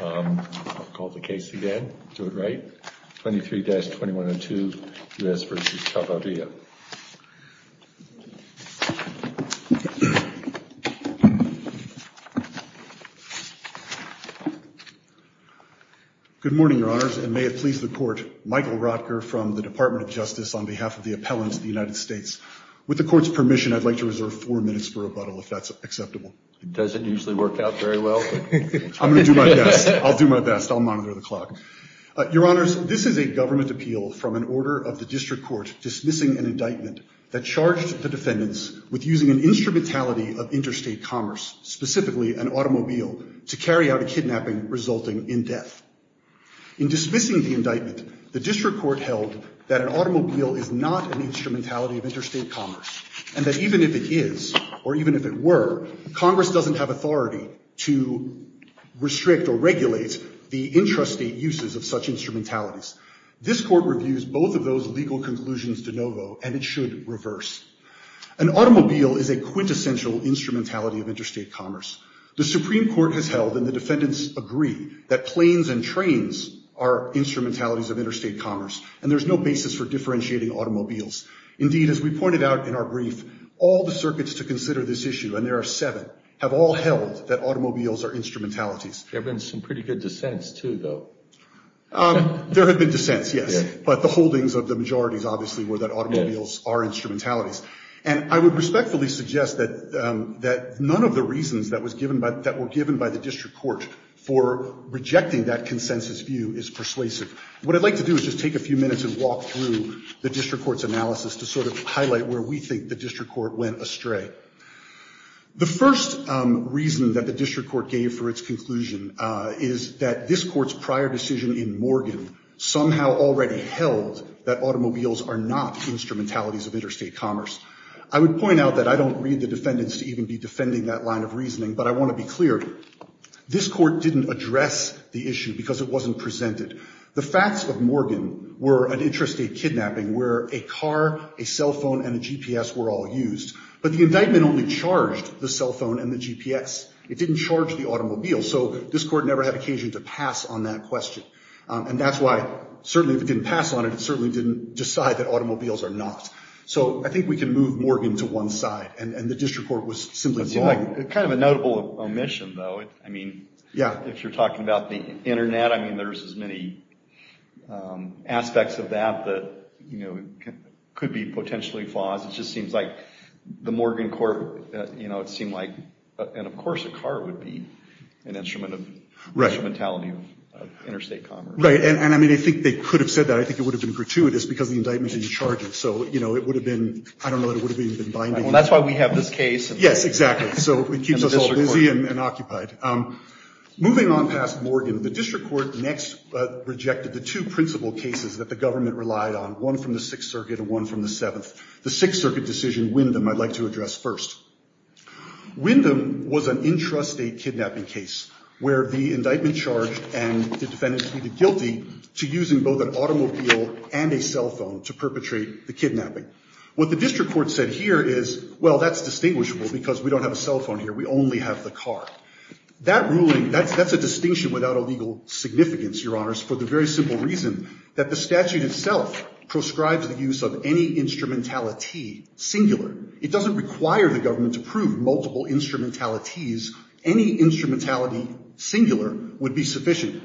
I'll call the case again. Do it right. 23-2102, U.S. v. Chavarria. Good morning, Your Honors, and may it please the Court, Michael Rotker from the Department of Justice on behalf of the Appellants of the United States. With the Court's permission, I'd like to reserve four minutes for rebuttal, if that's acceptable. It doesn't usually work out very well. I'm going to do my best. I'll do my best. I'll monitor the clock. Your Honors, this is a government appeal from an order of the District Court dismissing an indictment that charged the defendants with using an instrumentality of interstate commerce, specifically an automobile, to carry out a kidnapping resulting in death. In dismissing the indictment, the District Court held that an automobile is not an instrumentality of interstate commerce, and that even if it is, or even if it were, Congress doesn't have authority to restrict or regulate the intrastate uses of such instrumentalities. This Court reviews both of those legal conclusions de novo, and it should reverse. An automobile is a quintessential instrumentality of interstate commerce. The Supreme Court has held, and the defendants agree, that planes and trains are instrumentalities of interstate commerce, and there's no basis for differentiating automobiles. Indeed, as we pointed out in our brief, all the circuits to consider this issue, and there are seven, have all held that automobiles are instrumentalities. There have been some pretty good dissents, too, though. There have been dissents, yes, but the holdings of the majorities, obviously, were that automobiles are instrumentalities. And I would respectfully suggest that none of the reasons that were given by the District Court for rejecting that consensus view is persuasive. What I'd like to do is just take a few minutes and walk through the District Court's analysis to sort of highlight where we think the District Court went astray. The first reason that the District Court gave for its conclusion is that this Court's prior decision in Morgan somehow already held that automobiles are not instrumentalities of interstate commerce. I would point out that I don't read the defendants to even be defending that line of reasoning, but I want to be clear. This Court didn't address the issue because it wasn't presented. The facts of Morgan were an interstate kidnapping where a car, a cell phone, and a GPS were all used, but the indictment only charged the cell phone and the GPS. It didn't charge the automobile, so this Court never had occasion to pass on that question. And that's why, certainly, if it didn't pass on it, it certainly didn't decide that automobiles are not. So I think we can move Morgan to one side, and the District Court was simply wrong. It's kind of a notable omission, though. I mean, if you're talking about the internet, there's as many aspects of that that could be potentially flaws. It just seems like the Morgan Court, it seemed like, and of course, a car would be an instrumentality of interstate commerce. Right, and I think they could have said that. I think it would have been gratuitous because the indictment didn't charge it, so it would have been, I don't know, it would have been binding. That's why we have this case. Yes, exactly. So it keeps us all busy and occupied. Moving on past Morgan, the District Court next rejected the two principal cases that the government relied on, one from the Sixth Circuit and one from the Seventh. The Sixth Circuit decision, Wyndham, I'd like to address first. Wyndham was an intrastate kidnapping case, where the indictment charged and the defendant pleaded guilty to using both an automobile and a cell phone to perpetrate the kidnapping. What the District Court said here is, well, that's distinguishable because we don't have a cell phone here. We only have the car. That ruling, that's a distinction without a legal significance, Your Honors, for the very simple reason that the statute itself proscribes the use of any instrumentality singular. It doesn't require the government to prove multiple instrumentalities. Any instrumentality singular would be sufficient.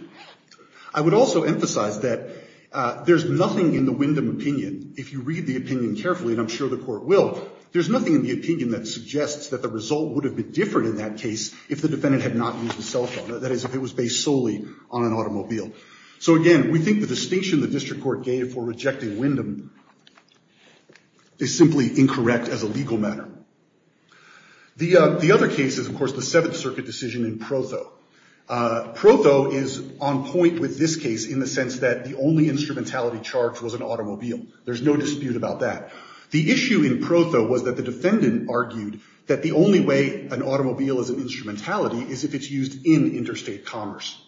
I would also emphasize that there's nothing in the Wyndham opinion, if you read the opinion carefully, and I'm sure the Court will, there's nothing in the opinion that suggests that the result would have been different in that case if the defendant had not used the cell phone, that is, if it was based solely on an automobile. So again, we think the distinction the District Court gave for rejecting Wyndham is simply incorrect as a legal matter. The other case is, of course, the Seventh Circuit decision in Protho. Protho is on point with this case in the sense that the only instrumentality charged was an automobile. There's no dispute about that. The issue in Protho was that the defendant argued that the only way an automobile is an instrumentality is if it's used in interstate commerce.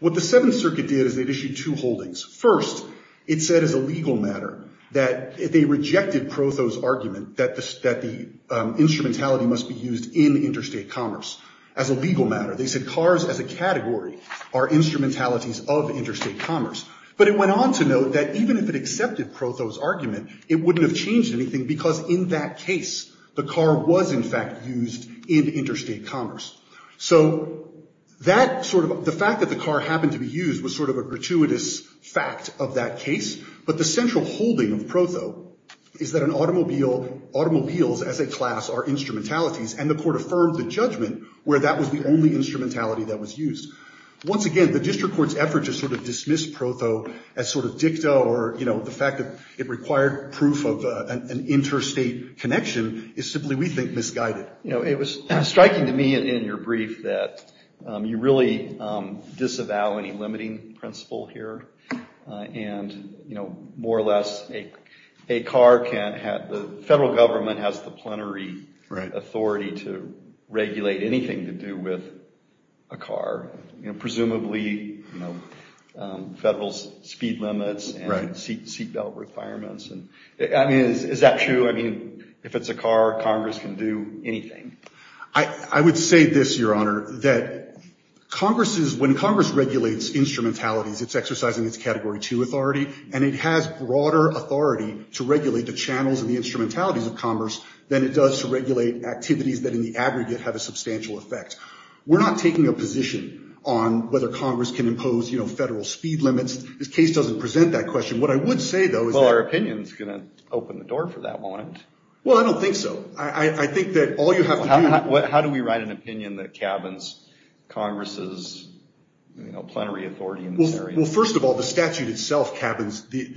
What the Seventh Circuit did is it issued two holdings. First, it said as a legal matter that they rejected Protho's argument that the instrumentality must be used in interstate commerce as a legal matter. They said cars as a category are instrumentalities of interstate commerce. But it went on to note that even if it accepted Protho's argument, it wouldn't have changed anything because in that case, the car was, in fact, used in interstate commerce. So that sort of the fact that the car happened to be used was sort of a gratuitous fact of that case. But the central holding of Protho is that automobiles as a class are instrumentalities. And the court affirmed the judgment where that was the only instrumentality that was used. Once again, the district court's effort to sort of dismiss Protho as sort of dicta or, you know, the fact that it required proof of an interstate connection is simply, we think, misguided. You know, it was striking to me in your brief that you really disavow any limiting principle here. And, you know, more or less, a car can have, the federal government has the plenary authority to regulate anything to do with a car, you know, presumably, you know, federal speed limits and seat belt requirements. And I mean, is that true? I mean, if it's a car, Congress can do anything. I would say this, Your Honor, that Congress is, when Congress regulates instrumentalities, it's exercising its category two authority, and it has broader authority to regulate the channels and the instrumentalities of commerce than it does to regulate activities that, in the aggregate, have a substantial effect. We're not taking a position on whether Congress can impose, you know, federal speed limits. This case doesn't present that question. What I would say, though, is that... Well, our opinion is going to open the door for that, won't it? Well, I don't think so. I think that all you have to do... How do we write an opinion that cabins Congress's plenary authority in this area? Well, first of all, the statute itself cabins the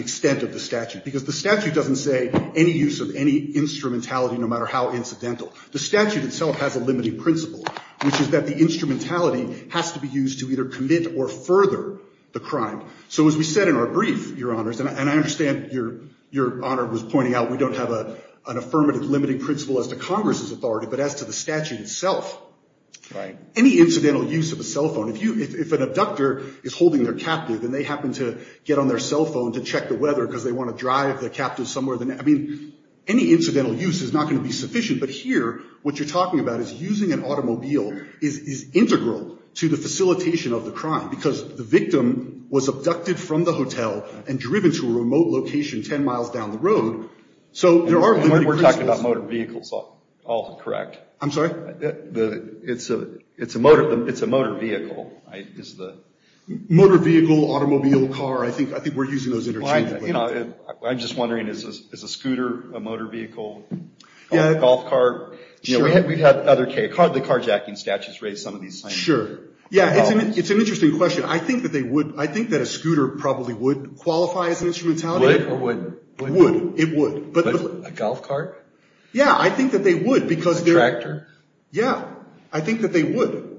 extent of the statute. Because the statute doesn't say any use of any instrumentality, no matter how incidental. The statute itself has a limiting principle, which is that the instrumentality has to be used to either commit or further the crime. So as we said in our brief, Your Honors, and I understand Your Honor was pointing out we don't have an affirmative limiting principle as to Congress's authority, but as to the statute itself. Any incidental use of a cell phone, if an abductor is holding their captive and they happen to get on their cell phone to check the weather because they want to drive their captive somewhere. I mean, any incidental use is not going to be sufficient. But here, what you're talking about is using an automobile is integral to the facilitation of the crime. Because the victim was abducted from the hotel and driven to a remote location 10 miles down the road. So there are... We're talking about motor vehicles, all correct. I'm sorry? It's a motor vehicle, is the... Motor vehicle, automobile, car. I think we're using those interchangeably. I'm just wondering, is a scooter a motor vehicle? Golf cart? We've had other cases, the carjacking statutes raise some of these things. Sure. Yeah, it's an interesting question. I think that a scooter probably would qualify as an instrumentality. Would or wouldn't? Would, it would. But a golf cart? Yeah, I think that they would because they're... Tractor? Yeah, I think that they would.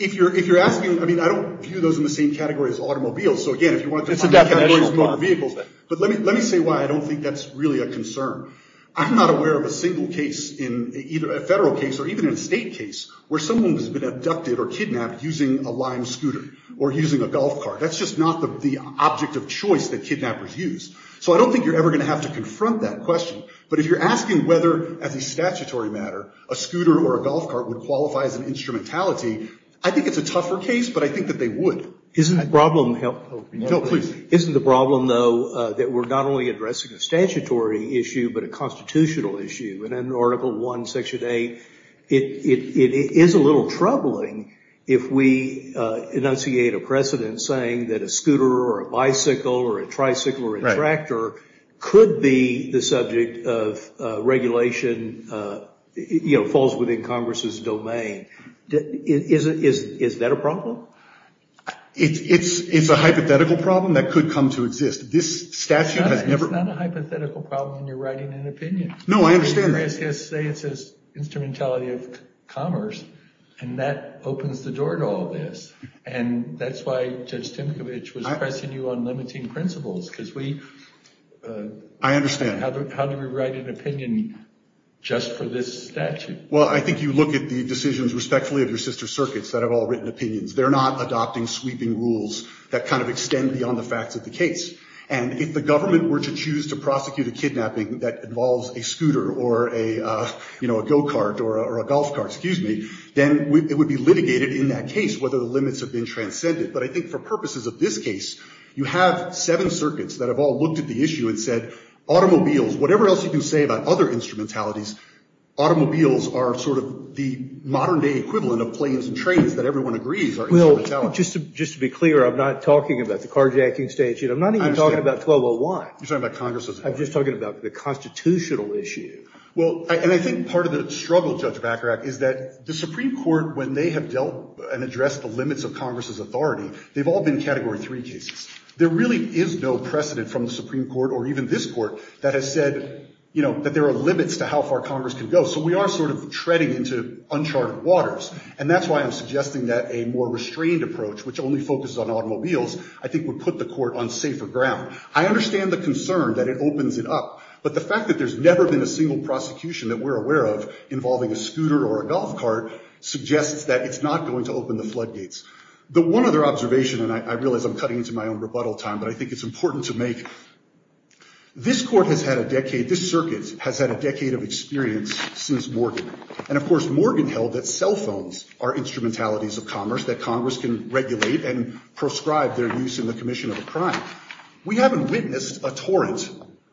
If you're asking, I mean, I don't view those in the same category as automobiles. So again, if you want to define a category as a motor vehicle, let me say why I don't think that's really a concern. I'm not aware of a single case in either a federal case or even in a state case where someone has been abducted or kidnapped using a lime scooter or using a golf cart. That's just not the object of choice that kidnappers use. So I don't think you're ever going to have to confront that question. But if you're asking whether, as a statutory matter, a scooter or a golf cart would qualify as an instrumentality, I think it's a tougher case, but I think that they would. Isn't the problem... No, please. Isn't the problem, though, that we're not only addressing a statutory issue, but a constitutional issue? And in Article I, Section 8, it is a little troubling if we enunciate a precedent saying that a scooter or a bicycle or a tricycle or a tractor could be the subject of regulation, falls within Congress's domain. Is that a problem? It's a hypothetical problem that could come to exist. This statute has never... It's not a hypothetical problem when you're writing an opinion. No, I understand. You can say it's an instrumentality of commerce, and that opens the door to all this. And that's why Judge Timkovich was pressing you on limiting principles, because we... I understand. How do we write an opinion just for this statute? Well, I think you look at the decisions respectfully of your sister circuits that have all written opinions. They're not adopting sweeping rules that kind of extend beyond the facts of the case. And if the government were to choose to prosecute a kidnapping that involves a scooter or a go-kart or a golf cart, excuse me, then it would be litigated in that case whether the limits have been transcended. But I think for purposes of this case, you have seven circuits that have all looked at the issue and said, automobiles, whatever else you can say about other instrumentalities, automobiles are sort of the modern-day equivalent of planes and trains that everyone agrees are instrumentality. Well, just to be clear, I'm not talking about the carjacking statute. I'm not even talking about 1201. You're talking about Congress's. I'm just talking about the constitutional issue. Well, and I think part of the struggle, Judge Bacharach, is that the Supreme Court, when they have dealt and addressed the limits of Congress's authority, they've all been Category 3 cases. There really is no precedent from the Supreme Court or even this Court that has said that there are limits to how far Congress can go. So we are sort of treading into uncharted waters. And that's why I'm suggesting that a more restrained approach, which only focuses on automobiles, I think would put the Court on safer ground. I understand the concern that it opens it up. But the fact that there's never been a single prosecution that we're aware of involving a scooter or a golf cart suggests that it's not going to open the floodgates. The one other observation, and I realize I'm cutting into my own rebuttal time, but I think it's important to make, this court has had a decade, this circuit has had a decade of experience since Morgan. And of course, Morgan held that cell phones are instrumentalities of commerce, that Congress can regulate and proscribe their use in the commission of a crime. We haven't witnessed a torrent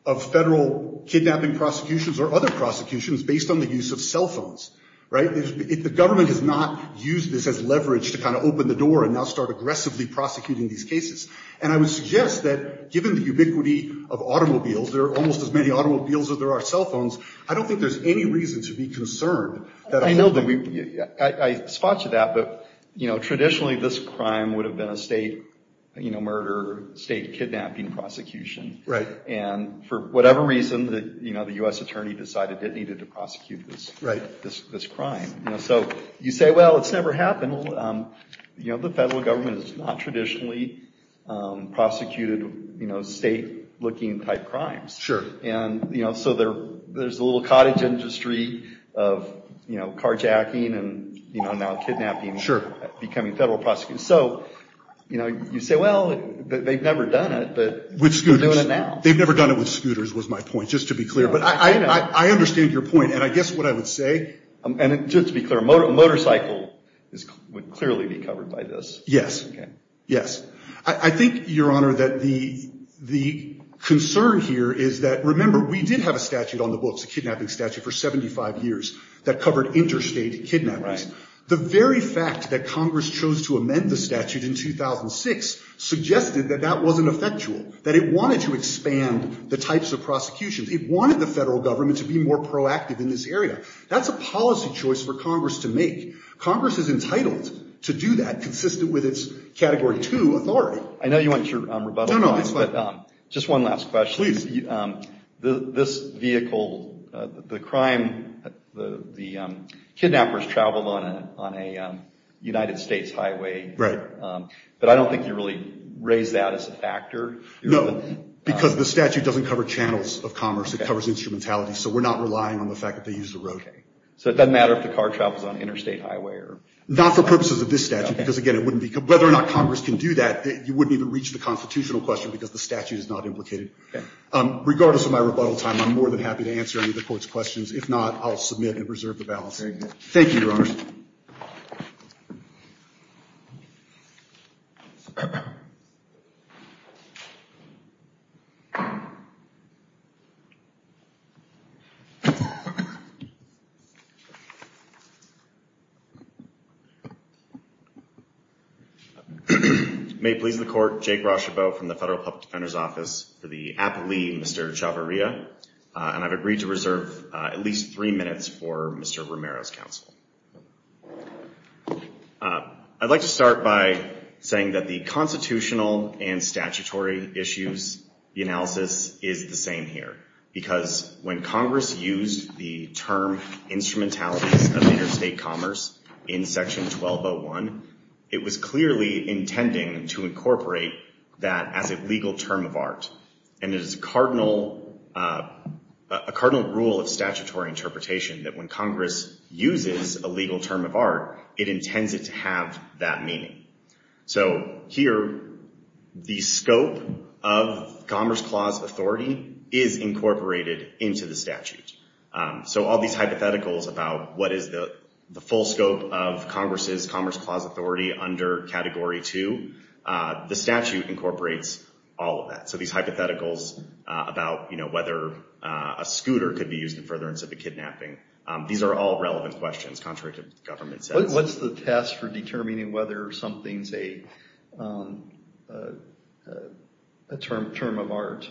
of federal kidnapping prosecutions or other prosecutions based on the use of cell phones. The government has not used this as leverage to kind of open the door and now start aggressively prosecuting these cases. And I would suggest that, given the ubiquity of automobiles, there are almost as many automobiles as there are cell phones, I don't think there's any reason to be concerned that a holdup would be made. I spot you that, but traditionally, this crime would have been a state murder, state kidnapping prosecution. And for whatever reason, the US attorney decided that it needed to prosecute this crime. So you say, well, it's never happened. The federal government has not traditionally prosecuted state-looking type crimes. And so there's a little cottage industry of carjacking and now kidnapping becoming federal prosecutions. So you say, well, they've never done it, but they're doing it now. They've never done it with scooters, was my point, just to be clear. But I understand your point. And I guess what I would say, and just to be clear, a motorcycle would clearly be covered by this. Yes. I think, Your Honor, that the concern here is that, remember, we did have a statute on the books, a kidnapping statute, for 75 years that covered interstate kidnappings. The very fact that Congress chose to amend the statute in 2006 suggested that that wasn't effectual, that it wanted to expand the types of prosecutions. It wanted the federal government to be more proactive in this area. That's a policy choice for Congress to make. Congress is entitled to do that, consistent with its Category 2 authority. I know you want your rebuttal, but just one last question. Please. This vehicle, the crime, the kidnappers traveled on a United States highway. Right. But I don't think you really raise that as a factor. No, because the statute doesn't cover channels of commerce. It covers instrumentality. So we're not relying on the fact that they used the road. So it doesn't matter if the car travels on an interstate highway? Not for purposes of this statute, because, again, whether or not Congress can do that, you wouldn't even reach the constitutional question, because the statute is not implicated. Regardless of my rebuttal time, I'm more than happy to answer any of the court's questions. Thank you, Your Honors. May it please the Court, Jake Rochebeau from the Federal Public Defender's Office for the aptly Mr. Chavarria, and I've agreed to reserve at least three minutes for Mr. Romero's counsel. I'd like to start by saying that the constitutional and statutory issues, the analysis, is the same here. Because when Congress used the term instrumentalities of interstate commerce in section 1201, it was clearly intending to incorporate that as a legal term of art. And it is a cardinal rule of statutory interpretation that when Congress uses a legal term of art, it intends it to have that meaning. So here, the scope of Commerce Clause authority is incorporated into the statute. So all these hypotheticals about what is the full scope of Congress's Commerce Clause authority under Category 2, the statute incorporates all of that. So these hypotheticals about whether a scooter could be used in furtherance of a kidnapping, these are all relevant questions, contrary to government sense. What's the test for determining whether something's a term of art?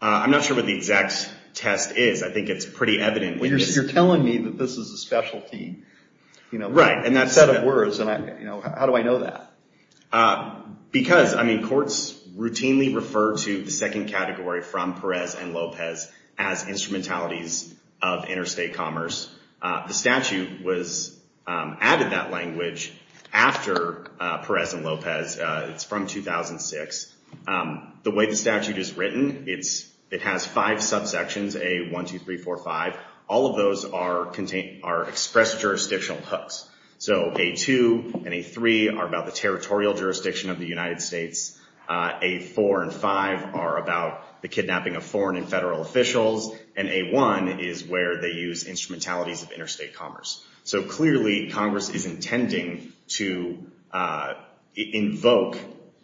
I'm not sure what the exact test is. I think it's pretty evident. Well, you're telling me that this is a specialty set of words, and how do I know that? Because courts routinely refer to the second category from Perez and Lopez as instrumentalities of interstate commerce. The statute added that language after Perez and Lopez. It's from 2006. The way the statute is written, it has five subsections, A1, 2, 3, 4, 5. All of those are expressed jurisdictional hooks. So A2 and A3 are about the territorial jurisdiction of the United States. A4 and 5 are about the kidnapping of foreign and federal officials. And A1 is where they use instrumentalities of interstate commerce. So clearly, Congress is intending to invoke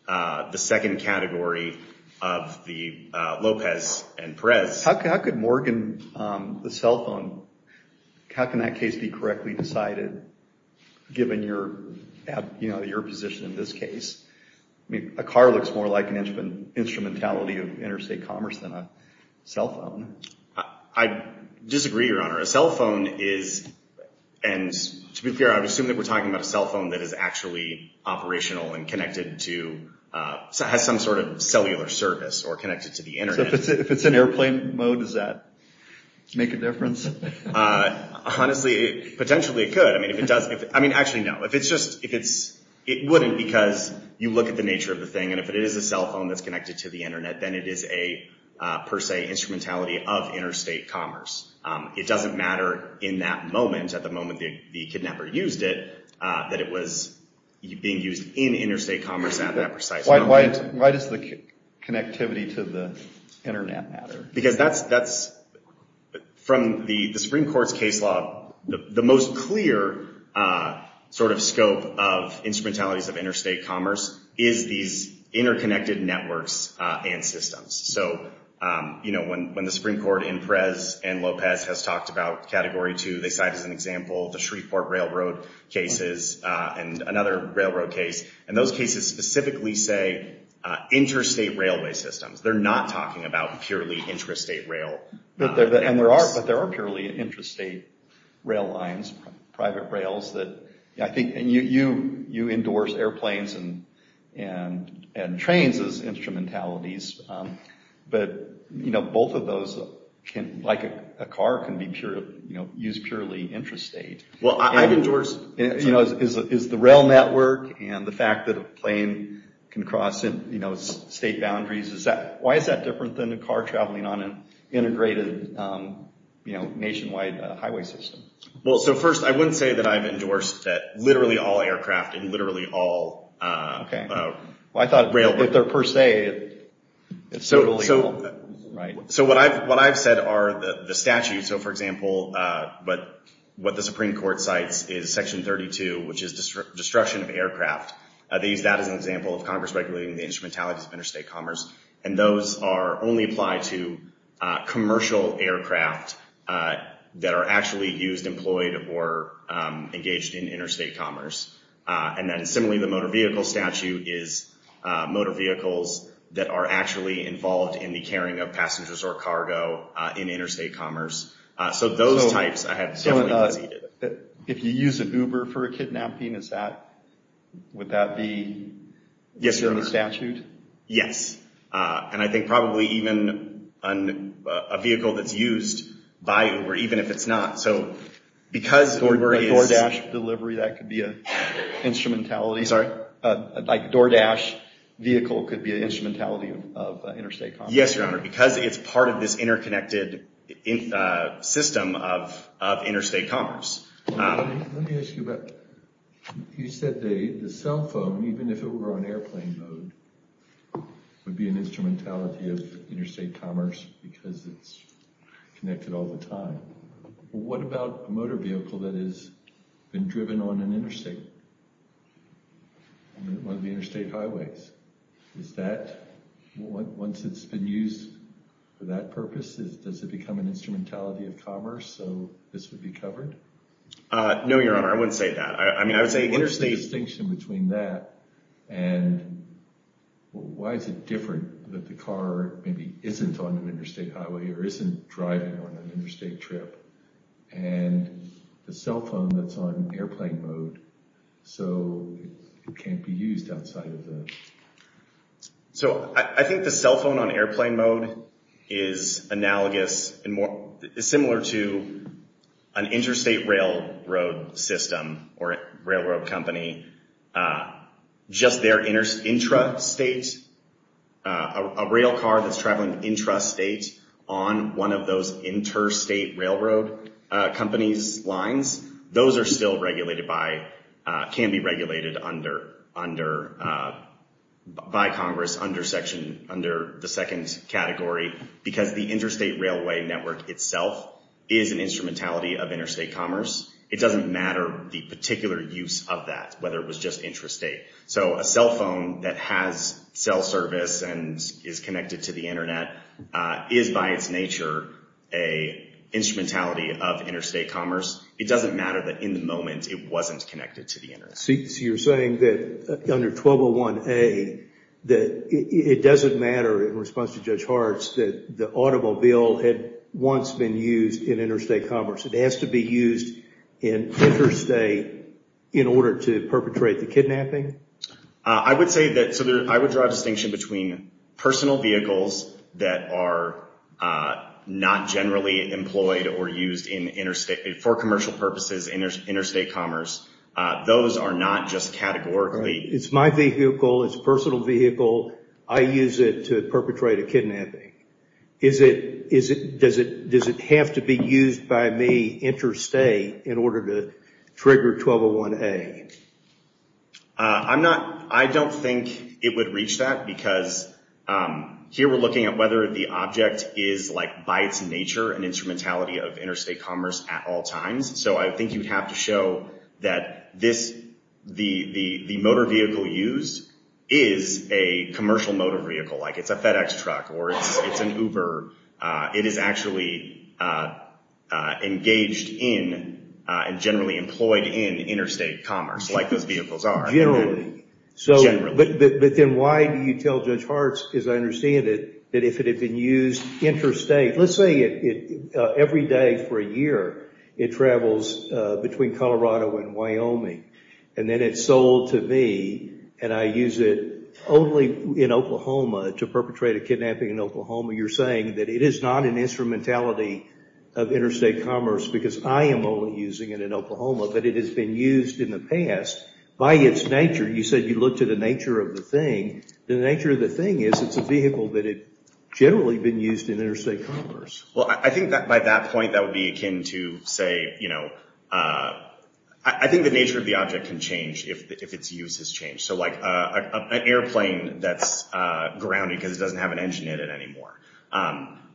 the second category of the Lopez and Perez. How could Morgan, the cell phone, how can that case be correctly decided, given your position in this case? A car looks more like an instrumentality of interstate commerce than a cell phone. I disagree, Your Honor. A cell phone is, and to be fair, I would assume that we're talking about a cell phone that is actually operational and connected to, has some sort of cellular service, or connected to the internet. So if it's in airplane mode, does that make a difference? Honestly, potentially it could. I mean, if it does, I mean, actually, no. It wouldn't, because you look at the nature of the thing. And if it is a cell phone that's connected to the internet, then it is a, per se, instrumentality of interstate commerce. It doesn't matter in that moment, at the moment the kidnapper used it, that it was being used in interstate commerce at that precise moment. Why does the connectivity to the internet matter? Because that's, from the Supreme Court's case law, the most clear sort of scope of instrumentalities of interstate commerce is these interconnected networks and systems. So when the Supreme Court in Perez and Lopez has talked about Category 2, they cite as an example the Shreveport Railroad cases and another railroad case. And those cases specifically say interstate railway systems. They're not talking about purely interstate rail networks. But there are purely interstate rail lines, private rails that, I think, and you endorse airplanes and trains as instrumentalities. But both of those, like a car, can be used purely intrastate. Well, I've endorsed. Is the rail network and the fact that a plane can cross state boundaries, why is that different than a car traveling on an integrated, nationwide highway system? Well, so first, I wouldn't say that I've endorsed that literally all aircraft and literally all railroad. Well, I thought, if they're per se, it's totally all. So what I've said are the statutes. So for example, what the Supreme Court cites is Section 32, which is destruction of aircraft. They use that as an example of Congress regulating the instrumentalities of interstate commerce. And those only apply to commercial aircraft that are actually used, employed, or engaged in interstate commerce. And then similarly, the motor vehicle statute is motor vehicles that are actually involved in the carrying of passengers or cargo in interstate commerce. So those types, I have definitely conceded. If you use an Uber for a kidnapping, would that be in the statute? Yes. And I think probably even a vehicle that's used by Uber, even if it's not. So because Uber is- DoorDash delivery, that could be an instrumentality. Sorry? DoorDash vehicle could be an instrumentality of interstate commerce. Yes, Your Honor, because it's part of this interconnected system of interstate commerce. Let me ask you about, you said the cell phone, even if it were on airplane mode, would be an instrumentality of interstate commerce because it's connected all the time. What about a motor vehicle that has been driven on an interstate, on one of the interstate highways? Is that, once it's been used for that purpose, does it become an instrumentality of commerce so this would be covered? No, Your Honor, I wouldn't say that. I mean, I would say interstate- What's the distinction between that and why is it different that the car maybe isn't on an interstate highway or isn't driving on an interstate trip? And the cell phone that's on airplane mode, so it can't be used outside of the- So I think the cell phone on airplane mode is analogous and similar to an interstate railroad system or a railroad company. Just their intrastate, a rail car that's traveling intrastate on one of those interstate railroad companies' lines, those are still regulated by, can be regulated by Congress under section, under the second category because the interstate railway network itself is an instrumentality of interstate commerce. It doesn't matter the particular use of that, whether it was just intrastate. So a cell phone that has cell service and is connected to the internet is by its nature an instrumentality of interstate commerce. It doesn't matter that in the moment it wasn't connected to the internet. So you're saying that under 1201A, that it doesn't matter in response to Judge Hartz that the automobile had once been used in interstate commerce. It has to be used in interstate in order to perpetrate the kidnapping? I would say that, so I would draw a distinction between personal vehicles that are not generally employed or used in interstate, for commercial purposes, interstate commerce. Those are not just categorically- It's my vehicle, it's a personal vehicle. I use it to perpetrate a kidnapping. Is it, does it have to be used by me interstate in order to trigger 1201A? I'm not, I don't think it would reach that because here we're looking at whether the object is like by its nature an instrumentality of interstate commerce at all times. So I think you'd have to show that this, the motor vehicle used is a commercial motor vehicle, like it's a FedEx truck or it's an Uber. It is actually engaged in and generally employed in interstate commerce like those vehicles are. Generally. So, but then why do you tell Judge Hartz, as I understand it, that if it had been used interstate, let's say every day for a year, it travels between Colorado and Wyoming and then it's sold to me and I use it only in Oklahoma to perpetrate a kidnapping in Oklahoma. You're saying that it is not an instrumentality of interstate commerce because I am only using it in Oklahoma, but it has been used in the past by its nature. You said you looked at the nature of the thing. The nature of the thing is it's a vehicle that had generally been used in interstate commerce. Well, I think that by that point, that would be akin to say, you know, I think the nature of the object can change if its use has changed. So like an airplane that's grounded because it doesn't have an engine in it anymore,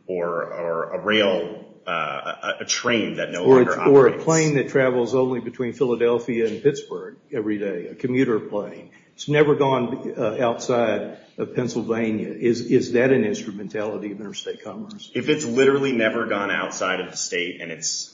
or a rail, a train that no longer operates. Or a plane that travels only between Philadelphia and Pittsburgh every day, a commuter plane. It's never gone outside of Pennsylvania. Is that an instrumentality of interstate commerce? If it's literally never gone outside of the state and it's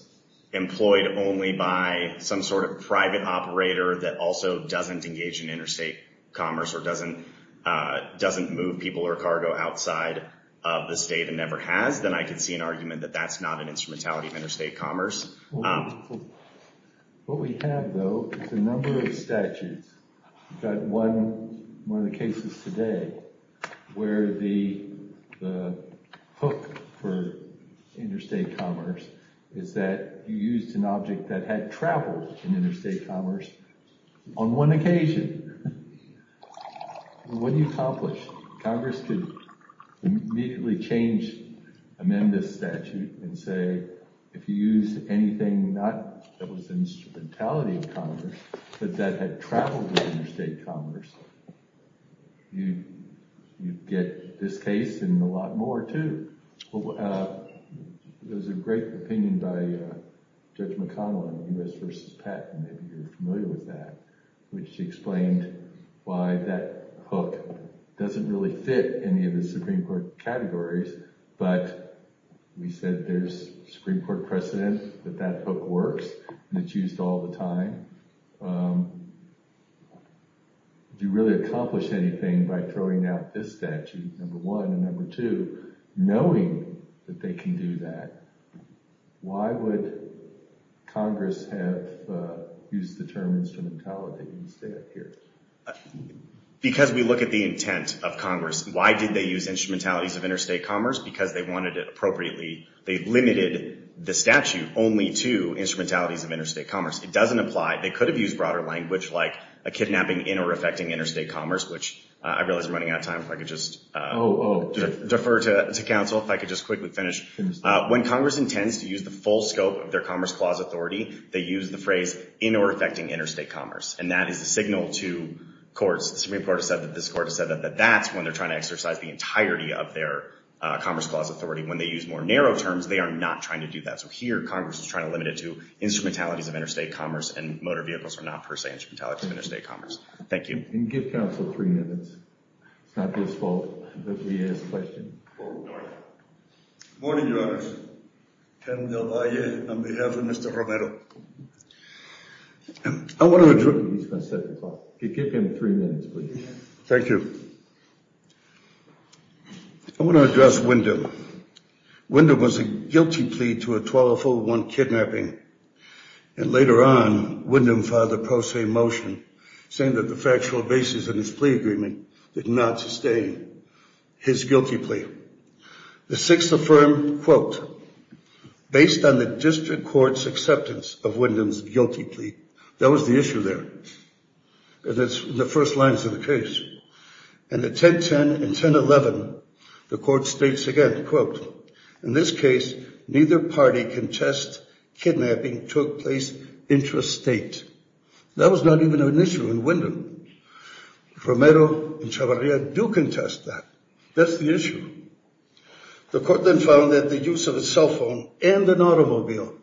employed only by some sort of private operator that also doesn't engage in interstate commerce or doesn't move people or cargo outside of the state and never has, then I could see an argument that that's not an instrumentality of interstate commerce. What we have though is a number of statutes. We've got one, one of the cases today where the hook for interstate commerce is that you used an object that had traveled in interstate commerce on one occasion. What do you accomplish? Congress could immediately change, amend this statute and say, if you use anything, not that was instrumentality of commerce, but that had traveled with interstate commerce, you'd get this case and a lot more too. There's a great opinion by Judge McConnell on the US versus patent, maybe you're familiar with that, which explained why that hook doesn't really fit any of the Supreme Court categories, but we said there's Supreme Court precedent that that hook works and it's used all the time. If you really accomplish anything by throwing out this statute, number one, and number two, knowing that they can do that, why would Congress have used the term instrumentality instead here? Because we look at the intent of Congress, why did they use instrumentalities of interstate commerce? Because they wanted it appropriately. They limited the statute only to instrumentalities of interstate commerce. It doesn't apply, they could have used broader language like a kidnapping in or affecting interstate commerce, which I realize we're running out of time, if I could just defer to counsel, if I could just quickly finish. When Congress intends to use the full scope of their Commerce Clause authority, they use the phrase in or affecting interstate commerce, and that is a signal to courts. The Supreme Court has said that this court has said that that's when they're trying to exercise the entirety of their Commerce Clause authority. When they use more narrow terms, they are not trying to do that. So here, Congress is trying to limit it to instrumentalities of interstate commerce and motor vehicles are not, per se, instrumentalities of interstate commerce. Thank you. And give counsel three minutes. It's not his fault, but he has a question. Morning, Your Honors. Kevin Del Valle on behalf of Mr. Romero. I want to address- He's got seven o'clock. Give him three minutes, please. Thank you. I want to address Wyndham. Wyndham was a guilty plea to a 1204-1 kidnapping. And later on, Wyndham filed a pro se motion saying that the factual basis of his plea agreement did not sustain his guilty plea. The Sixth affirmed, quote, "'Based on the District Court's acceptance "'of Wyndham's guilty plea.'" That was the issue there. And that's the first lines of the case. And at 1010 and 1011, the court states again, quote, "'In this case, neither party can test "'kidnapping took place intrastate.'" That was not even an issue in Wyndham. Romero and Chavarria do contest that. That's the issue. The court then found that the use of a cell phone and an automobile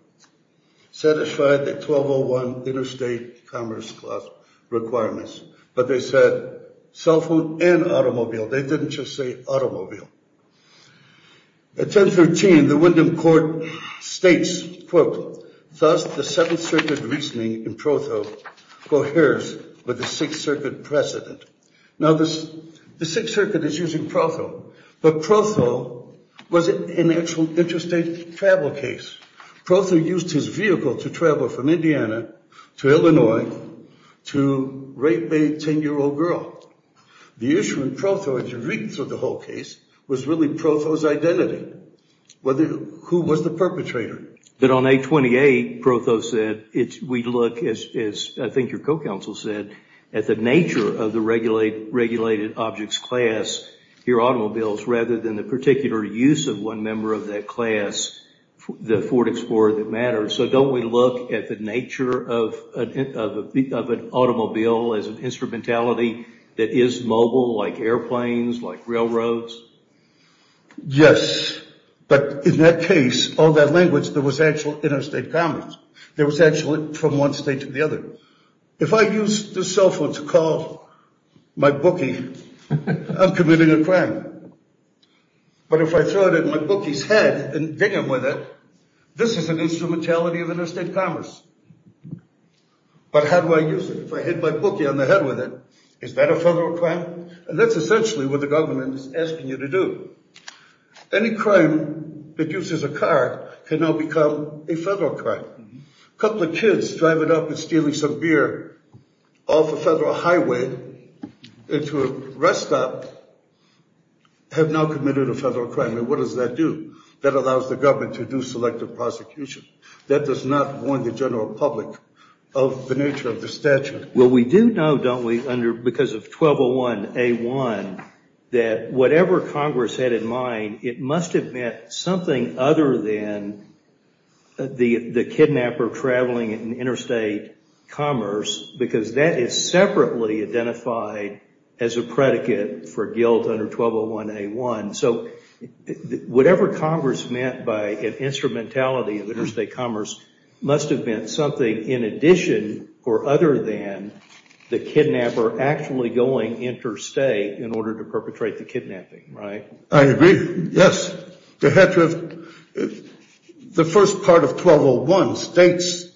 satisfied the 1201 interstate commerce class requirements. But they said cell phone and automobile. They didn't just say automobile. At 1013, the Wyndham court states, quote, "'Thus, the Seventh Circuit reasoning in Protho "'coheres with the Sixth Circuit precedent.'" Now, the Sixth Circuit is using Protho, but Protho was an actual interstate travel case. Protho used his vehicle to travel from Indiana to Illinois to rape a 10-year-old girl. The issue in Protho, as you read through the whole case, was really Protho's identity, who was the perpetrator. But on 828, Protho said, we look, as I think your co-counsel said, at the nature of the regulated objects class, your automobiles, rather than the particular use of one member of that class, the Ford Explorer that matters. So don't we look at the nature of an automobile as an instrumentality that is mobile, like airplanes, like railroads? Yes, but in that case, all that language, there was actual interstate commerce. There was actually from one state to the other. If I use the cell phone to call my bookie, I'm committing a crime. But if I throw it at my bookie's head and ding him with it, this is an instrumentality of interstate commerce. But how do I use it? If I hit my bookie on the head with it, is that a federal crime? And that's essentially what the government is asking you to do. Any crime that uses a car can now become a federal crime. Couple of kids driving up and stealing some beer off a federal highway into a rest stop have now committed a federal crime, and what does that do? That allows the government to do selective prosecution. That does not warn the general public of the nature of the statute. Well, we do know, don't we, because of 1201A1, that whatever Congress had in mind, it must have meant something other than the kidnapper traveling in interstate commerce, because that is separately identified as a predicate for guilt under 1201A1. So whatever Congress meant by an instrumentality of interstate commerce must have meant something in addition or other than the kidnapper actually going interstate in order to perpetrate the kidnapping, right? I agree, yes. They had to have, the first part of 1201, states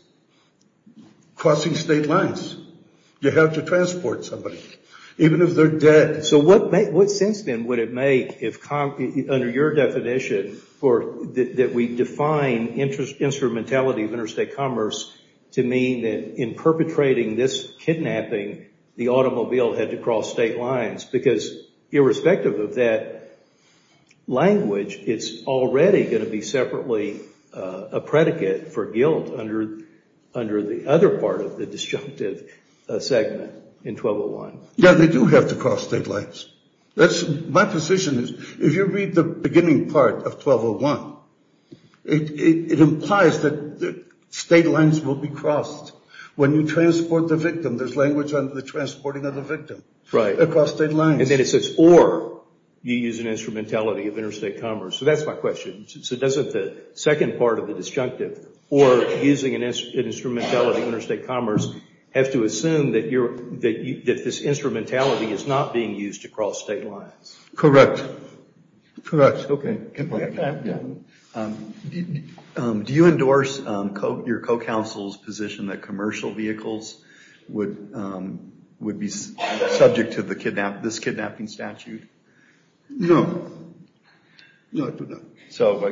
crossing state lines. You have to transport somebody, even if they're dead. So what sense, then, would it make under your definition that we define instrumentality of interstate commerce to mean that in perpetrating this kidnapping, the automobile had to cross state lines? Because irrespective of that language, it's already gonna be separately a predicate for guilt under the other part of the disjunctive segment in 1201. Yeah, they do have to cross state lines. My position is, if you read the beginning part of 1201, it implies that state lines will be crossed when you transport the victim. There's language on the transporting of the victim across state lines. And then it says, or you use an instrumentality of interstate commerce. So that's my question. So doesn't the second part of the disjunctive, or using an instrumentality of interstate commerce, have to assume that this instrumentality is not being used to cross state lines? Correct, correct. Okay. Do you endorse your co-counsel's position that commercial vehicles would be subject to this kidnapping statute? No, no, I do not. So,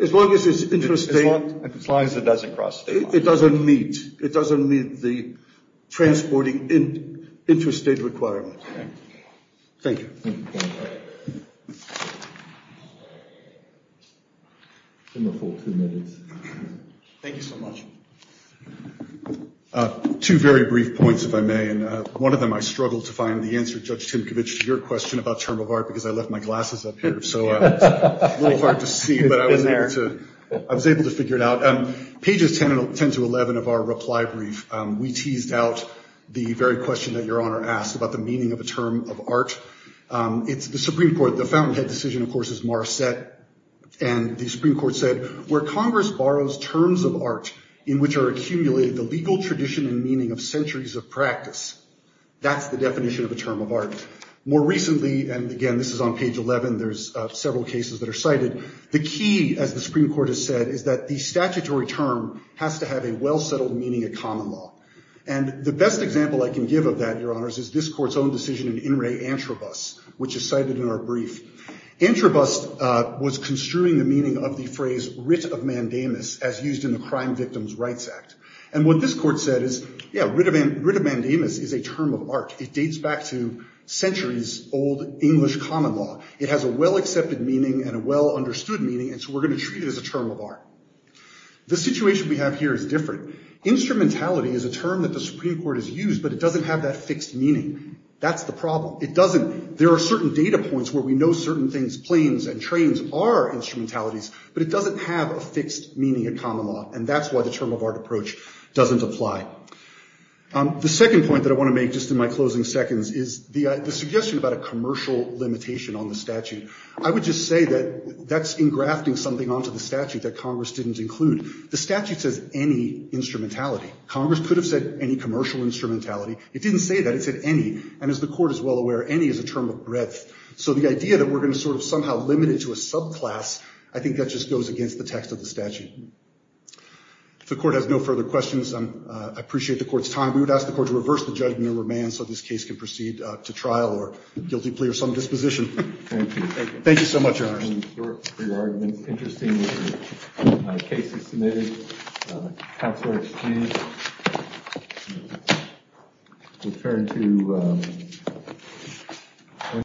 as long as it's interstate. As long as it doesn't cross state lines. It doesn't meet, it doesn't meet the transporting interstate requirement. Thank you. Thank you so much. Two very brief points, if I may. And one of them, I struggled to find the answer, Judge Timkovich, to your question about term of art, because I left my glasses up here. So, it's a little hard to see, but I was able to figure it out. Pages 10 to 11 of our reply brief, we teased out the very question that your Honor asked about the meaning of a term of art. It's the Supreme Court, the fountainhead decision, of course, is Marsette. And the Supreme Court said, where Congress borrows terms of art in which are accumulated the legal tradition and meaning of centuries of practice. That's the definition of a term of art. More recently, and again, this is on page 11, there's several cases that are cited. The key, as the Supreme Court has said, is that the statutory term has to have a well-settled meaning of common law. And the best example I can give of that, your Honors, is this court's own decision in In Re Antrobus, which is cited in our brief. Antrobus was construing the meaning of the phrase, writ of mandamus, as used in the Crime Victims' Rights Act. And what this court said is, yeah, writ of mandamus is a term of art. It dates back to centuries old English common law. It has a well-accepted meaning and a well-understood meaning, and so we're going to treat it as a term of art. The situation we have here is different. Instrumentality is a term that the Supreme Court has used, but it doesn't have that fixed meaning. That's the problem. It doesn't, there are certain data points where we know certain things, planes and trains are instrumentalities, but it doesn't have a fixed meaning of common law. And that's why the term of art approach doesn't apply. The second point that I want to make just in my closing seconds is the suggestion about a commercial limitation on the statute. I would just say that that's engrafting something onto the statute that Congress didn't include. The statute says any instrumentality. Congress could have said any commercial instrumentality. It didn't say that. It said any, and as the court is well aware, any is a term of breadth. So the idea that we're going to sort of somehow limit it to a subclass, I think that just goes against the text of the statute. If the court has no further questions, I appreciate the court's time. We would ask the court to reverse the judgment of remand so this case can proceed to trial or guilty plea or some disposition. Thank you so much, Your Honor.